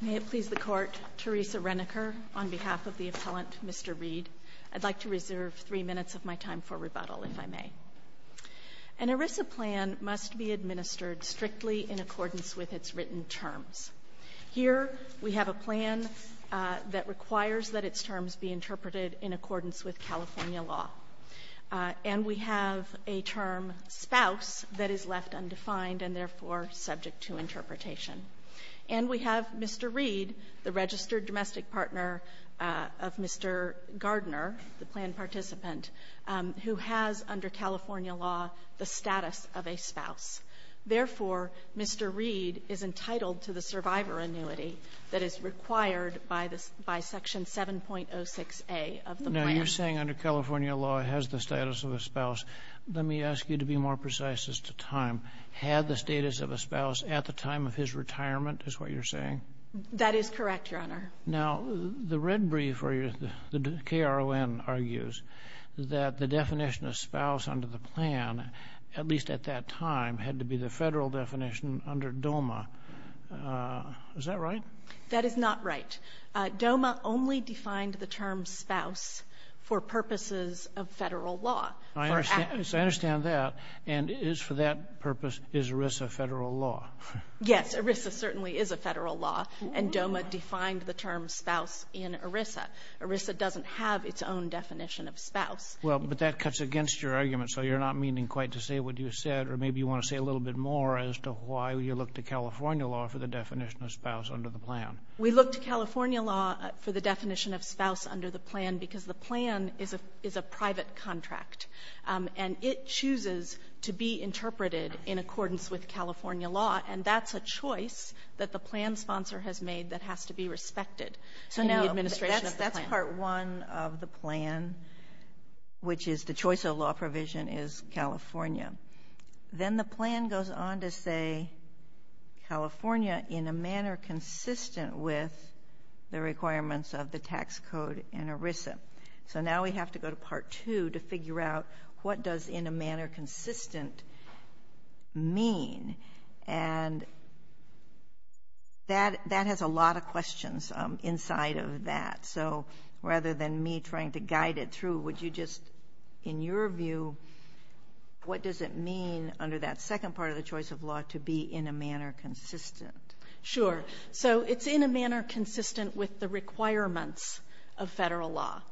May it please the Court, Teresa Reneker, on behalf of the Appellant, Mr. Reed, I'd like to reserve three minutes of my time for rebuttal, if I may. An ERISA plan must be administered strictly in accordance with its written terms. Here we have a plan that requires that its terms be interpreted in accordance with California law. And we have a term, spouse, that is left undefined and therefore subject to interpretation. And we have Mr. Reed, the registered domestic partner of Mr. Gardner, the plan participant, who has under California law the status of a spouse. Therefore, Mr. Reed is entitled to the survivor annuity that is required by Section 7.06a of the plan. You're saying under California law it has the status of a spouse. Let me ask you to be more precise as to time. Had the status of a spouse at the time of his retirement is what you're saying? That is correct, Your Honor. Now, the red brief where the KRON argues that the definition of spouse under the plan, at least at that time, had to be the Federal definition under DOMA. Is that right? That is not right. DOMA only defined the term spouse for purposes of Federal law. I understand that. And for that purpose, is ERISA Federal law? Yes. ERISA certainly is a Federal law. And DOMA defined the term spouse in ERISA. ERISA doesn't have its own definition of spouse. Well, but that cuts against your argument. So you're not meaning quite to say what you said, or maybe you want to say a little bit more as to why you look to California law for the definition of spouse under the plan. We look to California law for the definition of spouse under the plan because the plan is a private contract. And it chooses to be interpreted in accordance with California law. And that's a choice that the plan sponsor has made that has to be respected in the administration of the plan. So no, that's part one of the plan, which is the choice of law provision is California. Then the plan goes on to say California in a manner consistent with the requirements of the tax code in ERISA. So now we have to go to part two to figure out what does in a manner consistent mean. And that has a lot of questions inside of that. So rather than me trying to guide it through, would you just, in your view, what does it mean under that second part of the choice of law to be in a manner consistent? Sure. So it's in a manner consistent with the requirements of federal law.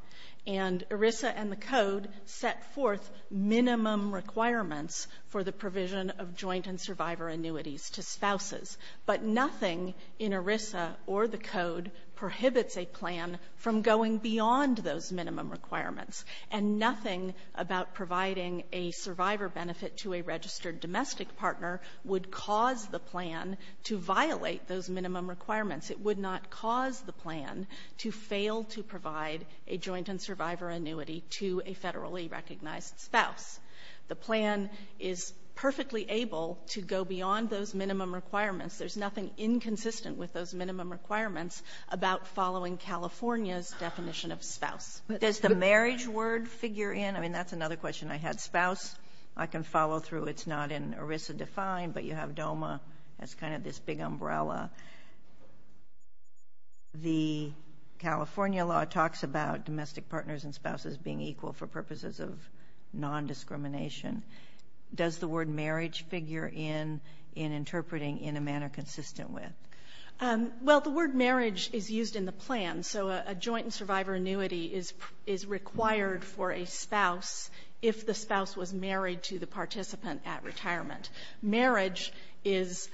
And ERISA and the code set forth minimum requirements for the provision of joint and survivor annuities to spouses. But nothing in ERISA or the code prohibits a plan from going beyond those minimum requirements. And nothing about providing a survivor benefit to a registered domestic partner would cause the plan to violate those minimum requirements. It would not cause the plan to fail to provide a joint and survivor annuity to a federally recognized spouse. The plan is perfectly able to go beyond those minimum requirements. There's nothing inconsistent with those minimum requirements about following California's definition of spouse. But does the marriage word figure in? I mean, that's another question I had. Spouse, I can follow through. It's not in ERISA-defined, but you have DOMA as kind of this big umbrella. The California law talks about domestic partners and spouses being equal for purposes of nondiscrimination. Does the word marriage figure in in interpreting in a manner consistent with? Well, the word marriage is used in the plan. So a joint and survivor annuity is required for a spouse if the spouse was married to the participant at retirement. Marriage is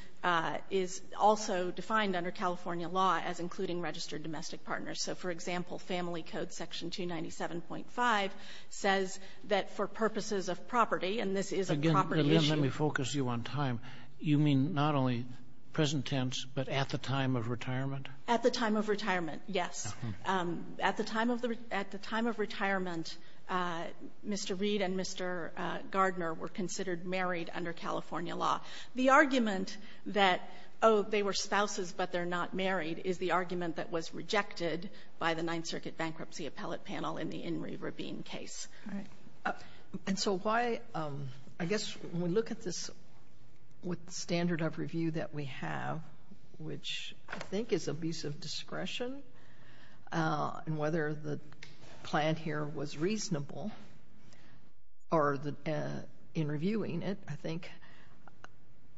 also defined under California law as including registered domestic partners. So, for example, Family Code Section 297.5 says that for purposes of property, and this is a property issue. Again, let me focus you on time. You mean not only present tense, but at the time of retirement? At the time of retirement, yes. At the time of the retirement, Mr. Reed and Mr. Gardner were considered married under California law. The argument that, oh, they were spouses, but they're not married, is the argument that was rejected by the Ninth Circuit Bankruptcy Appellate Panel in the Inree Rabin case. And so why, I guess, when we look at this with the standard of review that we have, which I think is a piece of discretion, and whether the plan here was reasonable, or in reviewing it, I think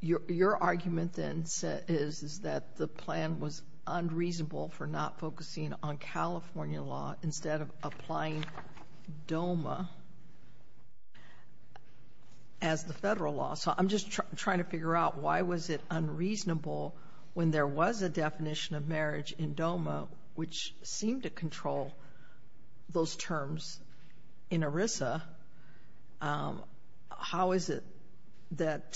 your argument then is that the plan was unreasonable for not focusing on California law instead of applying DOMA as the federal law. So I'm just trying to figure out why was it unreasonable when there was a definition of marriage in DOMA which seemed to control those terms in ERISA. How is it that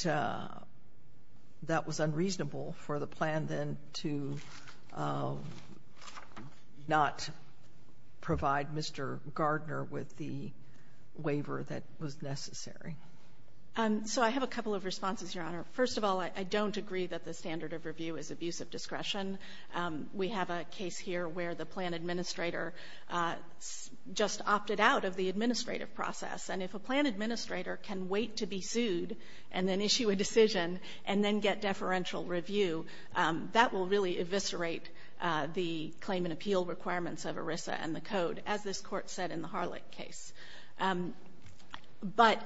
that was unreasonable for the plan then to not provide Mr. Gardner with the waiver that was necessary? So I have a couple of responses, Your Honor. First of all, I don't agree that the standard of review is abuse of discretion. We have a case here where the plan administrator just opted out of the administrative process. And if a plan administrator can wait to be sued and then issue a decision and then get deferential review, that will really eviscerate the claim and appeal requirements of ERISA and the Code, as this Court said in the Harlech case. But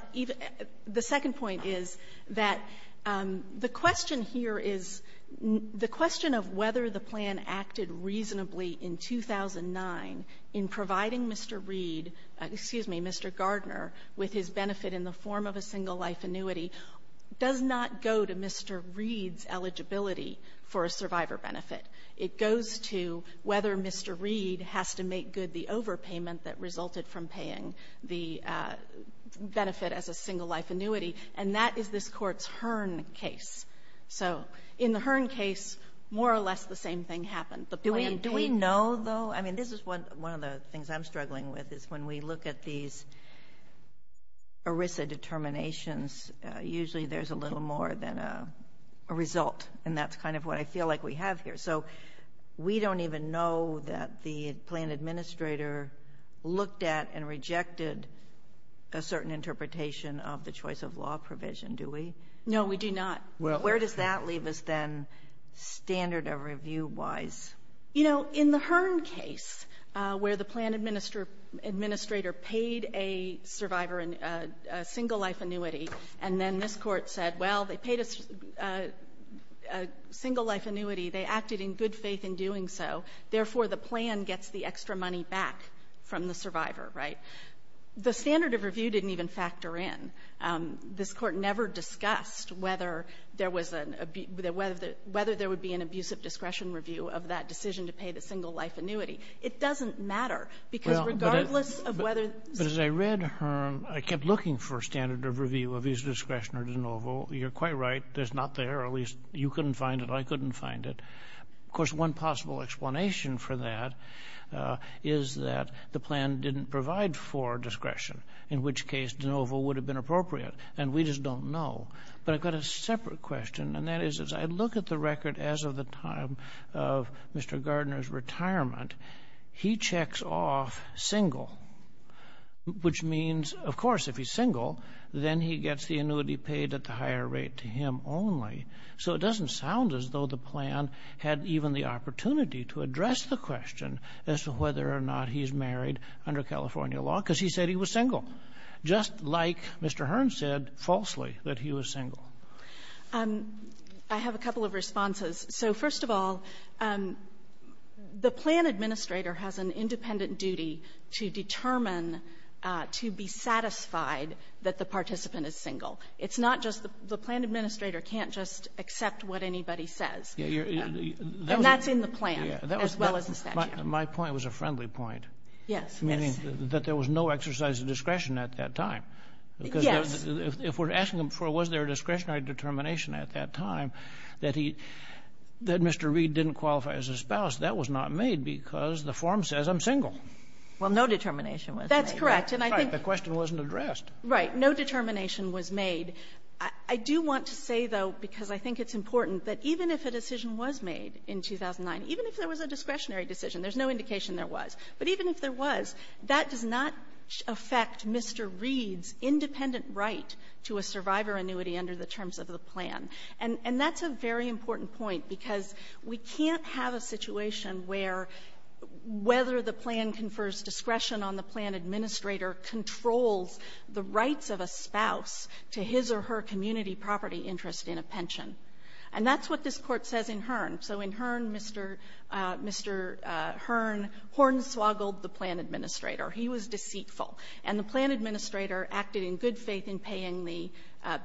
the second point is that the question here is, the question of whether the plan acted reasonably in 2009 in providing Mr. Reed, excuse me, Mr. Gardner, with his benefit in the form of a single-life annuity does not go to Mr. Reed's eligibility for a survivor benefit. It goes to whether Mr. Reed has to make good the overpayment that resulted from paying the benefit as a single-life annuity. And that is this Court's Hearn case. So in the Hearn case, more or less the same thing happened. The plan paid no. Do we know, though? I mean, this is one of the things I'm struggling with, is when we look at these ERISA determinations, usually there's a little more than a result. And that's kind of what I feel like we have here. So we don't even know that the plan administrator looked at and rejected a certain interpretation of the choice-of-law provision, do we? No, we do not. Well, where does that leave us, then, standard of review-wise? You know, in the Hearn case, where the plan administrator paid a survivor a single-life annuity, and then this Court said, well, they paid a single-life annuity. They acted in good faith in doing so. Therefore, the plan gets the extra money back from the survivor, right? The standard of review didn't even factor in. This Court never discussed whether there was an abuse of the --" whether there would be an abuse of discretion review of that decision to pay the single-life annuity. It doesn't matter, because regardless of whether the ---- But as I read Hearn, I kept looking for standard of review, abuse of discretion or de novo. You're quite right. It's not there. At least, you couldn't find it. I couldn't find it. Of course, one possible explanation for that is that the plan didn't provide for discretion, in which case de novo would have been appropriate. And we just don't know. But I've got a separate question, and that is, as I look at the record as of the time of Mr. Gardner's retirement, he checks off single, which means, of course, if he's So it doesn't sound as though the plan had even the opportunity to address the question as to whether or not he's married under California law, because he said he was single, just like Mr. Hearn said falsely that he was single. I have a couple of responses. So, first of all, the plan administrator has an independent duty to determine to be satisfied that the participant is single. It's not just the plan administrator can't just accept what anybody says. And that's in the plan as well as the statute. My point was a friendly point. Yes. Meaning that there was no exercise of discretion at that time. Because if we're asking him for was there a discretionary determination at that time that he, that Mr. Reed didn't qualify as a spouse, that was not made because the form says I'm single. Well, no determination was made. That's correct. And I think the question wasn't addressed. Right. No determination was made. I do want to say, though, because I think it's important, that even if a decision was made in 2009, even if there was a discretionary decision, there's no indication there was, but even if there was, that does not affect Mr. Reed's independent right to a survivor annuity under the terms of the plan. And that's a very important point, because we can't have a situation where whether a spouse to his or her community property interest in a pension. And that's what this Court says in Hearn. So in Hearn, Mr. Hearn hornswoggled the plan administrator. He was deceitful. And the plan administrator acted in good faith in paying the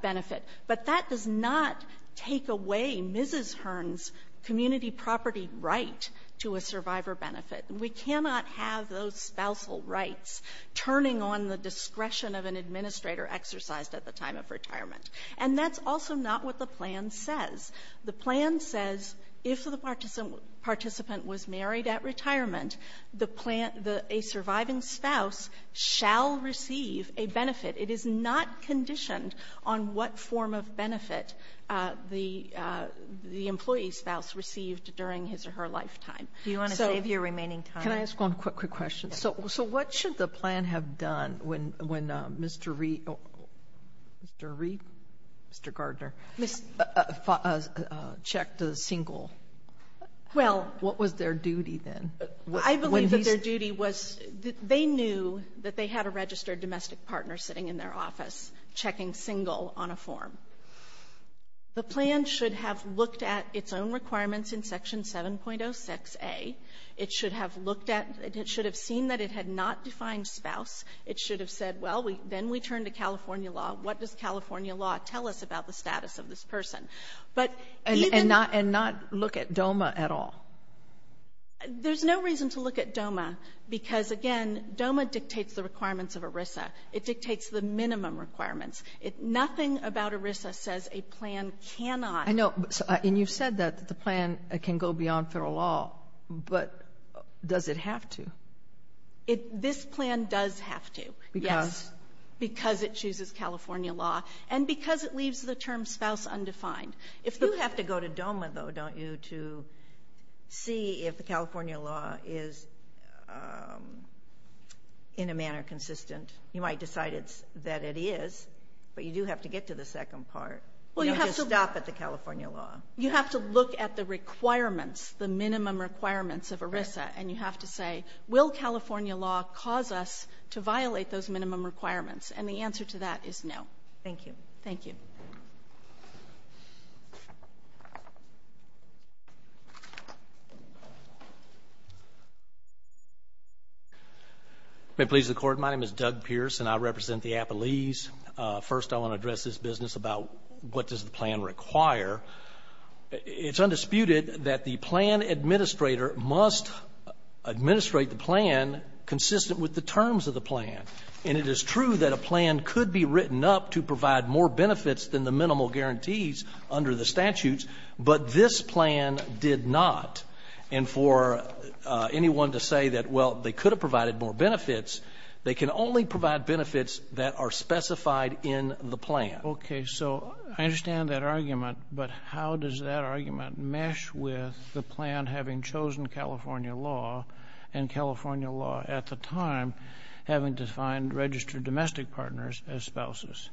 benefit. But that does not take away Mrs. Hearn's community property right to a survivor benefit. We cannot have those spousal rights turning on the discretion of an administrator exercised at the time of retirement. And that's also not what the plan says. The plan says if the participant was married at retirement, the plan the — a surviving spouse shall receive a benefit. It is not conditioned on what form of benefit the — the employee's spouse received during his or her lifetime. Do you want to save your remaining time? Sotomayor, can I ask one quick, quick question? So what should the plan have done when Mr. Reed — Mr. Reed? Mr. Gardner? Checked a single? Well — What was their duty then? I believe that their duty was — they knew that they had a registered domestic partner sitting in their office checking single on a form. The plan should have looked at its own requirements in Section 7.06a. It should have looked at — it should have seen that it had not defined spouse. It should have said, well, then we turn to California law. What does California law tell us about the status of this person? But even — And not — and not look at DOMA at all? There's no reason to look at DOMA, because, again, DOMA dictates the requirements of ERISA. It dictates the minimum requirements. It — nothing about ERISA says a plan cannot — I know, and you've said that the plan can go beyond federal law, but does it have to? It — this plan does have to, yes. Because? Because it chooses California law, and because it leaves the term spouse undefined. If the — You have to go to DOMA, though, don't you, to see if the California law is in a manner consistent. You might decide it's — that it is, but you do have to get to the second part. You don't just stop at the California law. You have to look at the requirements, the minimum requirements of ERISA. And you have to say, will California law cause us to violate those minimum requirements? Thank you. Thank you. May it please the Court, my name is Doug Pierce, and I represent the Appalese. First, I want to address this business about what does the plan require. It's undisputed that the plan administrator must administrate the plan consistent with the terms of the plan, and it is true that a plan could be written up to provide more benefits than the minimal guarantees under the statutes, but this plan did not. And for anyone to say that, well, they could have provided more benefits, they can only provide benefits that are specified in the plan. Okay. So I understand that argument, but how does that argument mesh with the plan having chosen California law and California law at the time having defined registered domestic partners as spouses?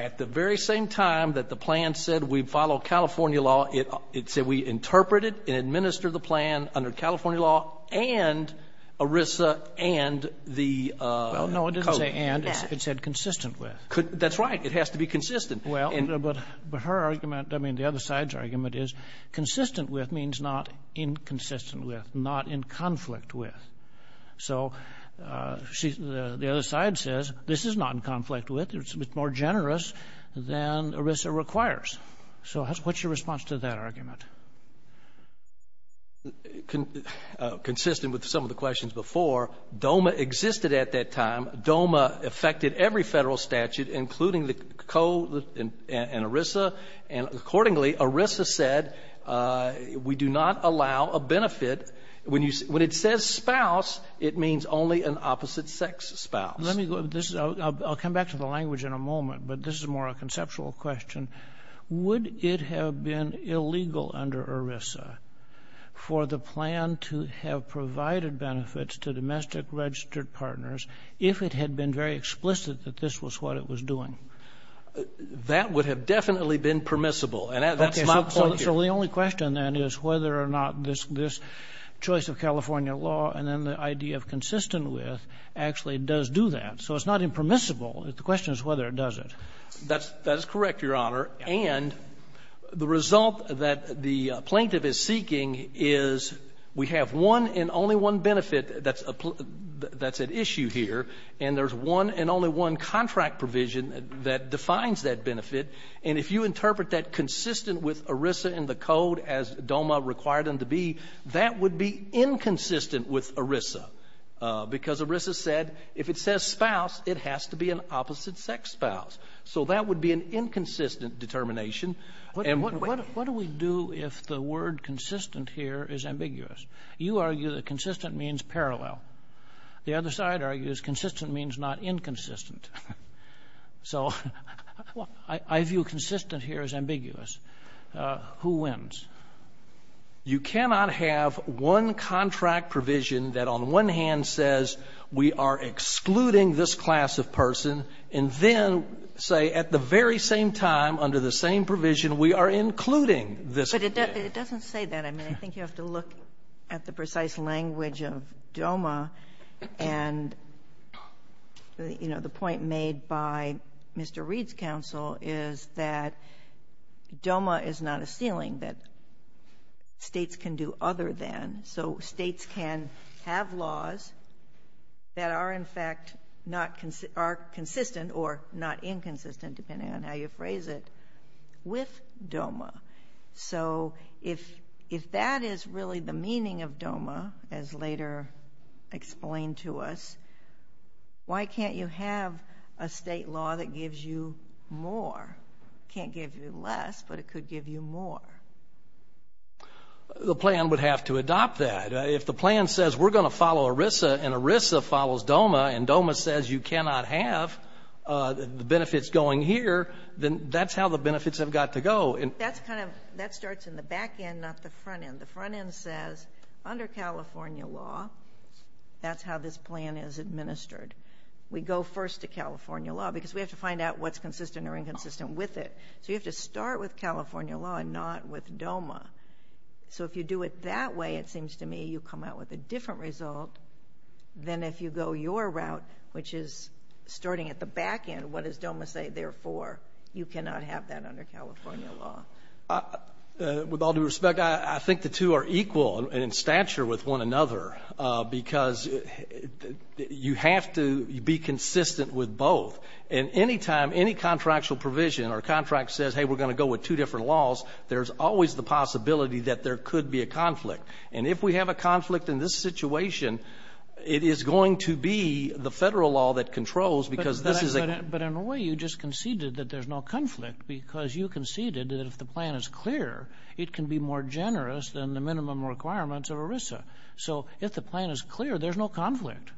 At the very same time that the plan said we follow California law, it said we interpret it and administer the plan under California law and ERISA and the code. No, it didn't say and, it said consistent with. That's right, it has to be consistent. Well, but her argument, I mean, the other side's argument is consistent with means not inconsistent with, not in conflict with. So the other side says, this is not in conflict with, it's more generous than ERISA requires. So what's your response to that argument? Consistent with some of the questions before, DOMA existed at that time. DOMA affected every federal statute, including the code and ERISA. And accordingly, ERISA said we do not allow a benefit. When you, when it says spouse, it means only an opposite sex spouse. Let me go, this is, I'll come back to the language in a moment, but this is more a conceptual question. Would it have been illegal under ERISA for the plan to have provided benefits to domestic registered partners if it had been very explicit that this was what it was doing? That would have definitely been permissible. And that's my point here. So the only question, then, is whether or not this choice of California law and then the idea of consistent with actually does do that. So it's not impermissible. The question is whether it does it. That's correct, Your Honor. And the result that the plaintiff is seeking is we have one and only one benefit that's at issue here, and there's one and only one contract provision that defines that benefit. And if you interpret that consistent with ERISA and the code as DOMA required them to be, that would be inconsistent with ERISA because ERISA said if it says spouse, it has to be an opposite sex spouse. So that would be an inconsistent determination. And what do we do if the word consistent here is ambiguous? You argue that consistent means parallel. The other side argues consistent means not inconsistent. So I view consistent here as ambiguous. Who wins? You cannot have one contract provision that on one hand says we are excluding this class of person and then say at the very same time under the same provision we are including this. But it doesn't say that. I mean, I think you have to look at the precise language of DOMA and, you know, the point made by Mr. Reed's counsel is that DOMA is not a ceiling that states can do other than. So states can have laws that are, in fact, are consistent or not inconsistent depending on how you phrase it with DOMA. So if that is really the meaning of DOMA, as later explained to us, why can't you have a state law that gives you more? Can't give you less, but it could give you more. The plan would have to adopt that. If the plan says we're going to follow ERISA and ERISA follows DOMA and DOMA says you cannot have the benefits going here, then that's how the benefits have got to go. That's kind of, that starts in the back end, not the front end. The front end says under California law, that's how this plan is administered. We go first to California law because we have to find out what's consistent or inconsistent with it. So you have to start with California law and not with DOMA. So if you do it that way, it seems to me, you come out with a different result than if you go your route, which is starting at the back end, what does DOMA say, therefore, you cannot have that under California law. With all due respect, I think the two are equal in stature with one another because you have to be consistent with both. And any time any contractual provision or contract says, hey, we're going to go with two different laws, there's always the possibility that there could be a conflict. And if we have a conflict in this situation, it is going to be the Federal law that controls because this is a — But in a way, you just conceded that there's no conflict because you conceded that if the plan is clear, it can be more generous than the minimum requirements of ERISA. So if the plan is clear, there's no conflict.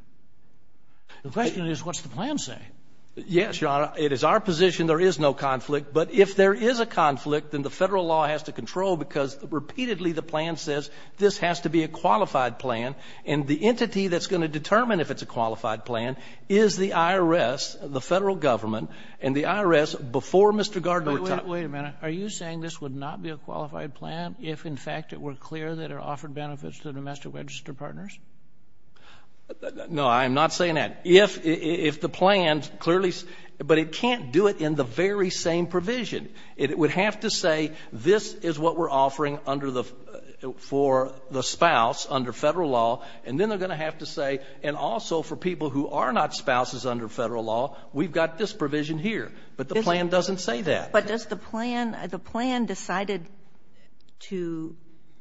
The question is, what's the plan say? Yes, Your Honor. It is our position there is no conflict. But if there is a conflict, then the Federal law has to control because repeatedly the plan says this has to be a qualified plan, and the entity that's going to determine if it's a qualified plan is the IRS, the Federal government, and the IRS before Mr. Gardner talked. Wait a minute. Are you saying this would not be a qualified plan if, in fact, it were clear that there are offered benefits to domestic register partners? No, I'm not saying that. If the plan clearly — but it can't do it in the very same provision. It would have to say this is what we're offering under the — for the spouse under Federal law, and then they're going to have to say, and also for people who are not spouses under Federal law, we've got this provision here. But the plan doesn't say that. But does the plan — the plan decided to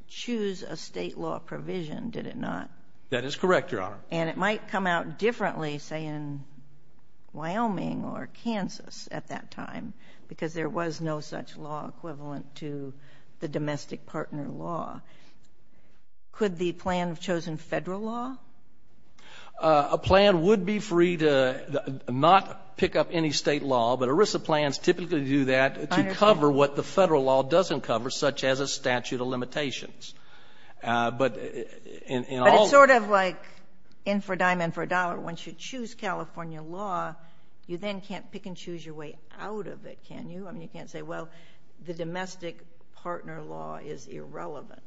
choose a state law provision, did it not? That is correct, Your Honor. And it might come out differently, say, in Wyoming or Kansas at that time, because there was no such law equivalent to the domestic partner law. Could the plan have chosen Federal law? A plan would be free to not pick up any state law, but ERISA plans typically do that to cover what the Federal law doesn't cover, such as a statute of limitations. But in all — But it's sort of like in for a dime, in for a dollar. Once you choose California law, you then can't pick and choose your way out of it, can you? I mean, you can't say, well, the domestic partner law is irrelevant.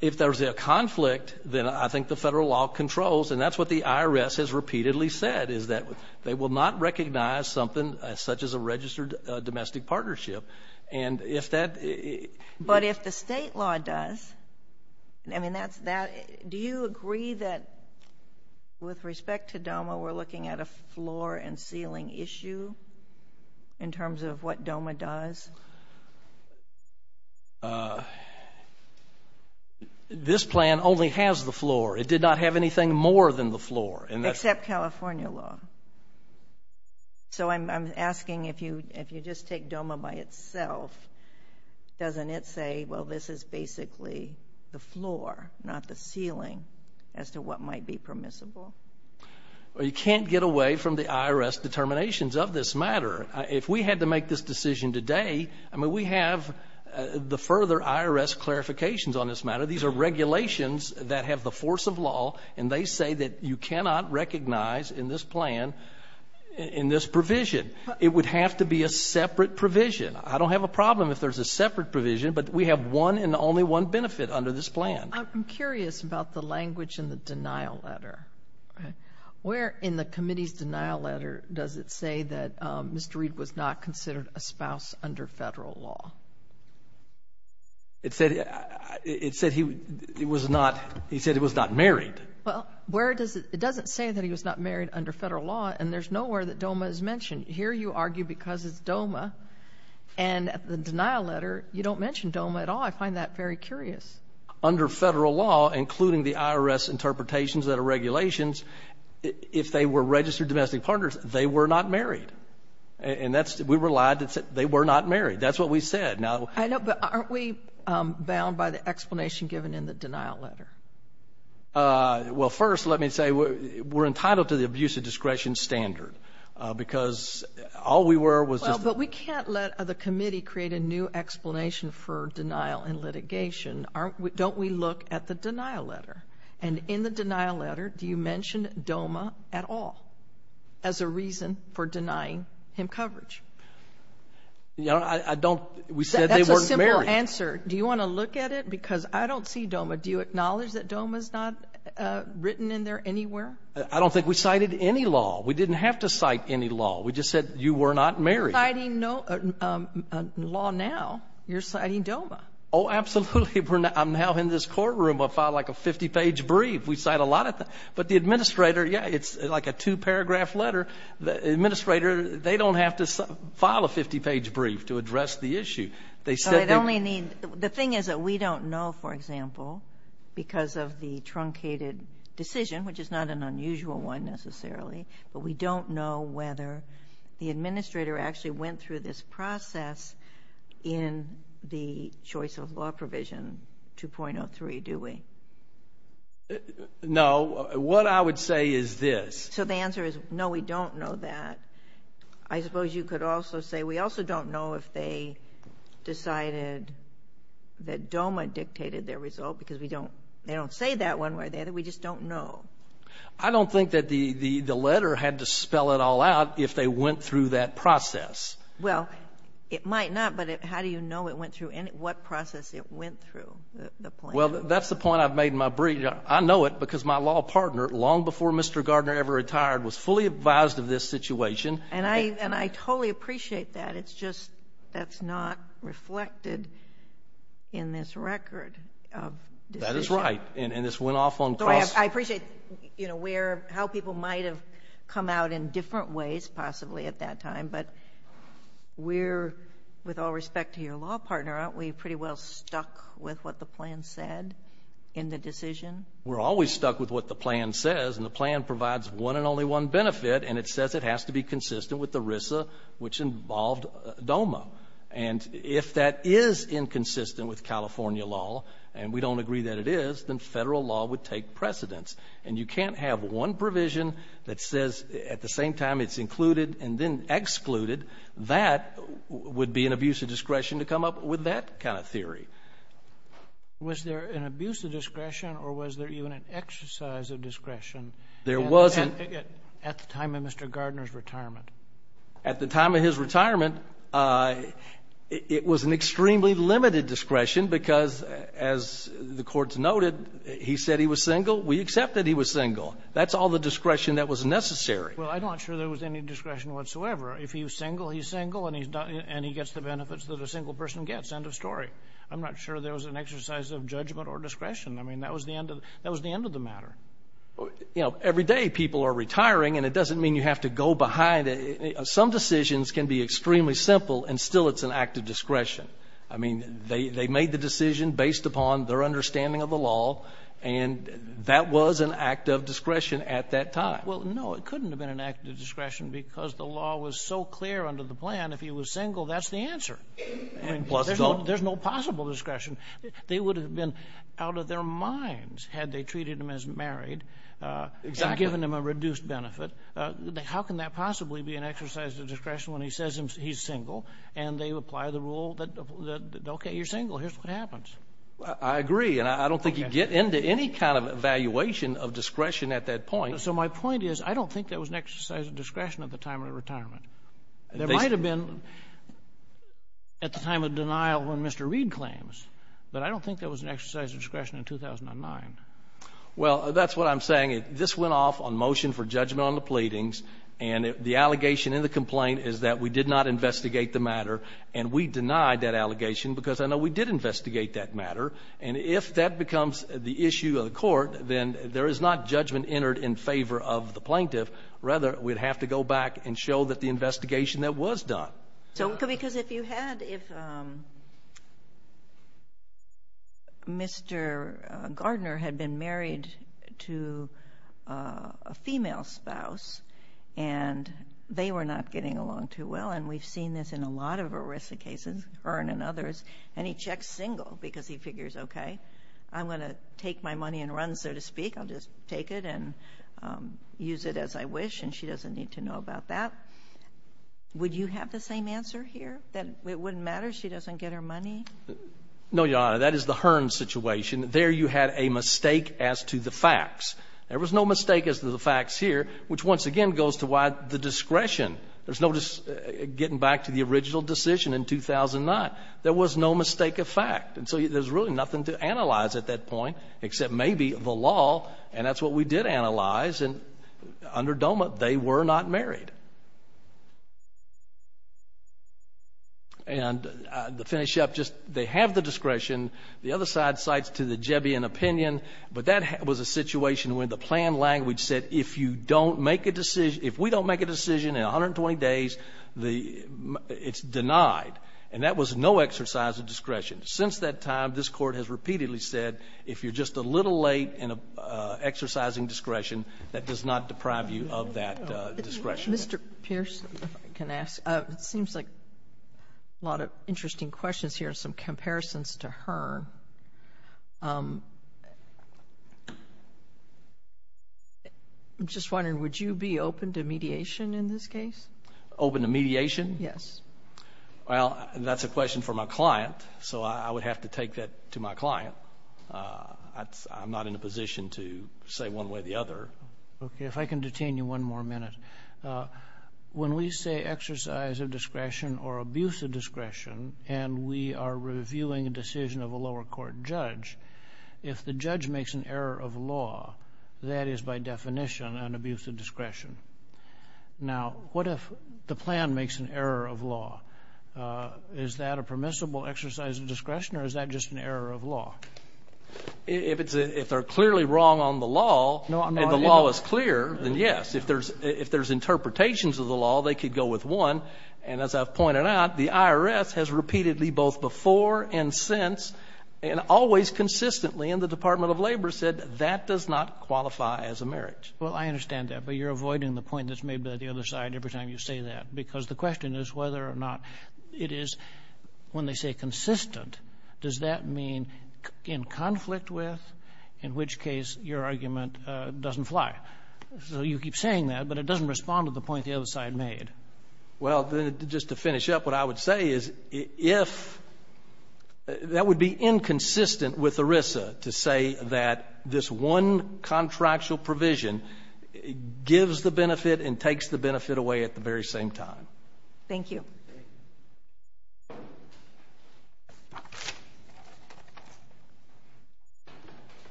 If there's a conflict, then I think the Federal law controls, and that's what the IRS has repeatedly said, is that they will not recognize something such as a registered domestic partnership. And if that — But if the state law does, I mean, that's — do you agree that, with respect to DOMA, we're looking at a floor-and-ceiling issue in terms of what DOMA does? This plan only has the floor. It did not have anything more than the floor. Except California law. So I'm asking, if you just take DOMA by itself, doesn't it say, well, this is basically the floor, not the ceiling, as to what might be permissible? Well, you can't get away from the IRS determinations of this matter. If we had to make this decision today, I mean, we have the further IRS clarifications on this matter. These are regulations that have the force of law, and they say that you cannot recognize in this plan, in this provision. It would have to be a separate provision. I don't have a problem if there's a separate provision, but we have one and only one benefit under this plan. I'm curious about the language in the denial letter. Where in the committee's denial letter does it say that Mr. Reed was not considered a spouse under federal law? It said he was not married. Well, where does it, it doesn't say that he was not married under federal law, and there's nowhere that DOMA is mentioned. Here you argue because it's DOMA, and at the denial letter, you don't mention DOMA at all. I find that very curious. Under federal law, including the IRS interpretations that are regulations, if they were registered domestic partners, they were not married, and that's, we relied, they were not married. That's what we said. I know, but aren't we bound by the explanation given in the denial letter? Well, first, let me say we're entitled to the abuse of discretion standard because all we were was just- No, we weren't. Don't we look at the denial letter, and in the denial letter, do you mention DOMA at all as a reason for denying him coverage? You know, I don't, we said they weren't married. That's a simple answer. Do you want to look at it? Because I don't see DOMA. Do you acknowledge that DOMA's not written in there anywhere? I don't think we cited any law. We didn't have to cite any law. We just said you were not married. You're citing no law now. You're citing DOMA. Oh, absolutely. I'm now in this courtroom. I'll file like a 50-page brief. We cite a lot of things, but the administrator, yeah, it's like a two-paragraph letter. The administrator, they don't have to file a 50-page brief to address the issue. They said they- I only need, the thing is that we don't know, for example, because of the truncated decision, which is not an unusual one necessarily, but we don't know whether the administrator actually went through this process in the choice of law provision 2.03, do we? No. What I would say is this. So the answer is no, we don't know that. I suppose you could also say we also don't know if they decided that DOMA dictated their result because we don't, they don't say that one way or the other. We just don't know. I don't think that the letter had to spell it all out if they went through that process. Well, it might not, but how do you know it went through, what process it went through? Well, that's the point I've made in my brief. I know it because my law partner, long before Mr. Gardner ever retired, was fully advised of this situation. And I totally appreciate that. It's just that's not reflected in this record of decision. That is right. And this went off on- I appreciate, you know, where, how people might have come out in different ways possibly at that time, but we're, with all respect to your law partner, aren't we pretty well stuck with what the plan said in the decision? We're always stuck with what the plan says, and the plan provides one and only one benefit, and it says it has to be consistent with ERISA, which involved DOMA. And if that is inconsistent with California law, and we don't agree that it is, then Federal law would take precedence. And you can't have one provision that says at the same time it's included and then excluded. That would be an abuse of discretion to come up with that kind of theory. Was there an abuse of discretion, or was there even an exercise of discretion? There was an- At the time of Mr. Gardner's retirement. At the time of his retirement, it was an extremely limited discretion because, as the Court's said, he was single. We accept that he was single. That's all the discretion that was necessary. Well, I'm not sure there was any discretion whatsoever. If he was single, he's single, and he's not, and he gets the benefits that a single person gets. End of story. I'm not sure there was an exercise of judgment or discretion. I mean, that was the end of, that was the end of the matter. Well, you know, every day people are retiring, and it doesn't mean you have to go behind it. Some decisions can be extremely simple, and still it's an act of discretion. I mean, they made the decision based upon their understanding of the law, and that was an act of discretion at that time. Well, no, it couldn't have been an act of discretion because the law was so clear under the plan, if he was single, that's the answer. There's no possible discretion. They would have been out of their minds had they treated him as married and given him a reduced benefit. How can that possibly be an exercise of discretion when he says he's single, and they apply the Okay, you're single. Here's what happens. I agree. And I don't think you get into any kind of evaluation of discretion at that point. So my point is, I don't think that was an exercise of discretion at the time of retirement. There might have been at the time of denial when Mr. Reed claims, but I don't think that was an exercise of discretion in 2009. Well, that's what I'm saying. This went off on motion for judgment on the pleadings, and the allegation in the complaint is that we did not investigate the matter, and we denied that allegation because I know we did investigate that matter. And if that becomes the issue of the court, then there is not judgment entered in favor of the plaintiff. Rather, we'd have to go back and show that the investigation that was done. Because if you had Mr. Gardner had been married to a female spouse, and they were not getting along too well, and we've seen this in a lot of ERISA cases, Hearn and others, and he checks single because he figures, okay, I'm going to take my money and run, so to speak. I'll just take it and use it as I wish, and she doesn't need to know about that. Would you have the same answer here, that it wouldn't matter? She doesn't get her money? No, Your Honor. That is the Hearn situation. There you had a mistake as to the facts. There was no mistake as to the facts here, which once again goes to why the discretion There's no getting back to the original decision in 2009. There was no mistake of fact. And so there's really nothing to analyze at that point, except maybe the law, and that's what we did analyze, and under DOMA, they were not married. And to finish up, just they have the discretion. The other side cites to the Jebbian opinion, but that was a situation where the planned language said, if you don't make a decision, if we don't make a decision in 120 days, it's denied. And that was no exercise of discretion. Since that time, this Court has repeatedly said, if you're just a little late in exercising discretion, that does not deprive you of that discretion. Mr. Pierce, if I can ask, it seems like a lot of interesting questions here and some I'm just wondering, would you be open to mediation in this case? Open to mediation? Yes. Well, that's a question for my client, so I would have to take that to my client. I'm not in a position to say one way or the other. Okay, if I can detain you one more minute. When we say exercise of discretion or abuse of discretion, and we are reviewing a decision of a lower court judge, if the judge makes an error of law, that is by definition an abuse of discretion. Now, what if the plan makes an error of law? Is that a permissible exercise of discretion or is that just an error of law? If they're clearly wrong on the law and the law is clear, then yes. If there's interpretations of the law, they could go with one. And as I've pointed out, the IRS has repeatedly, both before and since, and always consistently in the Department of Labor, said that does not qualify as a marriage. Well, I understand that, but you're avoiding the point that's made by the other side every time you say that, because the question is whether or not it is, when they say consistent, does that mean in conflict with, in which case your argument doesn't fly? So you keep saying that, but it doesn't respond to the point the other side made. Well, then, just to finish up, what I would say is, if that would be inconsistent with ERISA to say that this one contractual provision gives the benefit and takes the benefit away at the very same time. Thank you.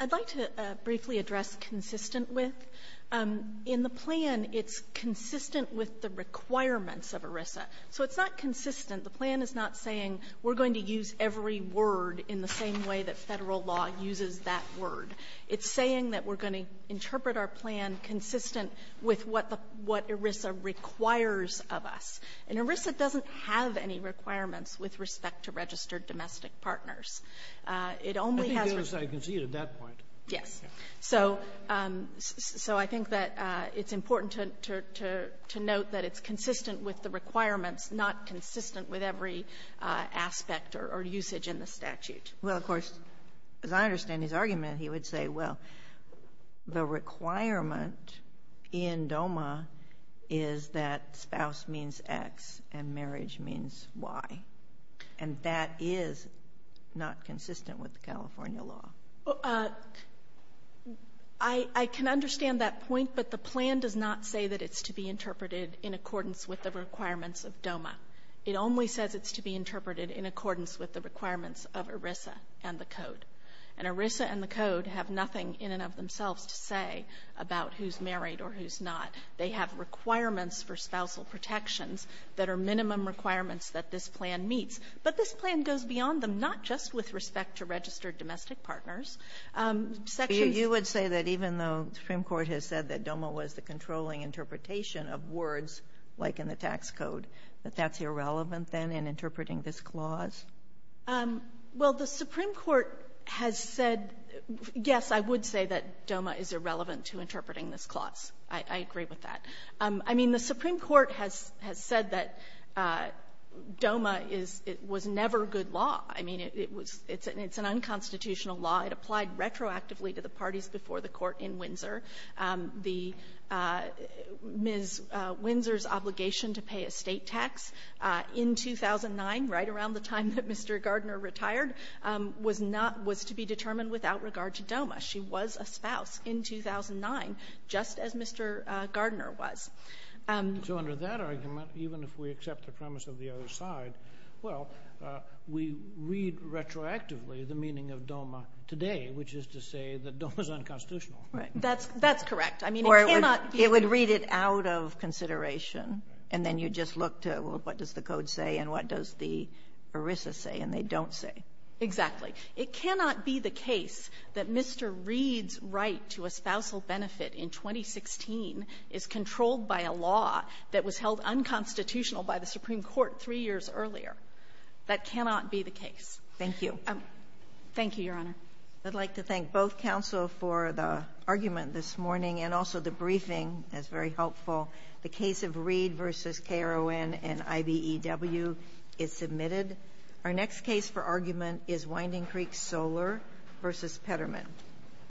I'd like to briefly address consistent with. In the plan, it's consistent with the requirements of ERISA. So it's not consistent. The plan is not saying we're going to use every word in the same way that Federal law uses that word. It's saying that we're going to interpret our plan consistent with what the – what ERISA requires of us. And ERISA doesn't have any requirements with respect to registered domestic partners. It only has – I think the other side can see it at that point. Yes. So I think that it's important to note that it's consistent with the requirements, not consistent with every aspect or usage in the statute. Well, of course, as I understand his argument, he would say, well, the requirement in DOMA is that spouse means X and marriage means Y. And that is not consistent with the California law. I can understand that point, but the plan does not say that it's to be interpreted in accordance with the requirements of DOMA. It only says it's to be interpreted in accordance with the requirements of ERISA and the Code. And ERISA and the Code have nothing in and of themselves to say about who's married or who's not. They have requirements for spousal protections that are minimum requirements that this plan meets. But this plan goes beyond them, not just with respect to registered domestic partners. Sections — You would say that even though the Supreme Court has said that DOMA was the controlling interpretation of words like in the tax code, that that's irrelevant, then, in interpreting this clause? Well, the Supreme Court has said, yes, I would say that DOMA is irrelevant to interpreting this clause. I agree with that. I mean, the Supreme Court has said that DOMA is — was never good law. I mean, it was — it's an unconstitutional law. It applied retroactively to the parties before the Court in Windsor. The — Ms. Windsor's obligation to pay a State tax in 2009, right around the time that Mr. Gardner retired, was not — was to be determined without regard to DOMA. She was a spouse in 2009, just as Mr. Gardner was. So under that argument, even if we accept the premise of the other side, well, we read retroactively the meaning of DOMA today, which is to say that DOMA is unconstitutional. Right. That's — that's correct. I mean, it cannot be — Or it would read it out of consideration, and then you just look to, well, what does the code say, and what does the ERISA say, and they don't say. Exactly. It cannot be the case that Mr. Reed's right to a spousal benefit in 2016 is controlled by a law that was held unconstitutional by the Supreme Court three years earlier. That cannot be the case. Thank you. Thank you, Your Honor. I'd like to thank both counsel for the argument this morning and also the briefing. That's very helpful. The case of Reed v. KRON and IBEW is submitted. Our next case for argument is Winding Creek Solar v. Petterman.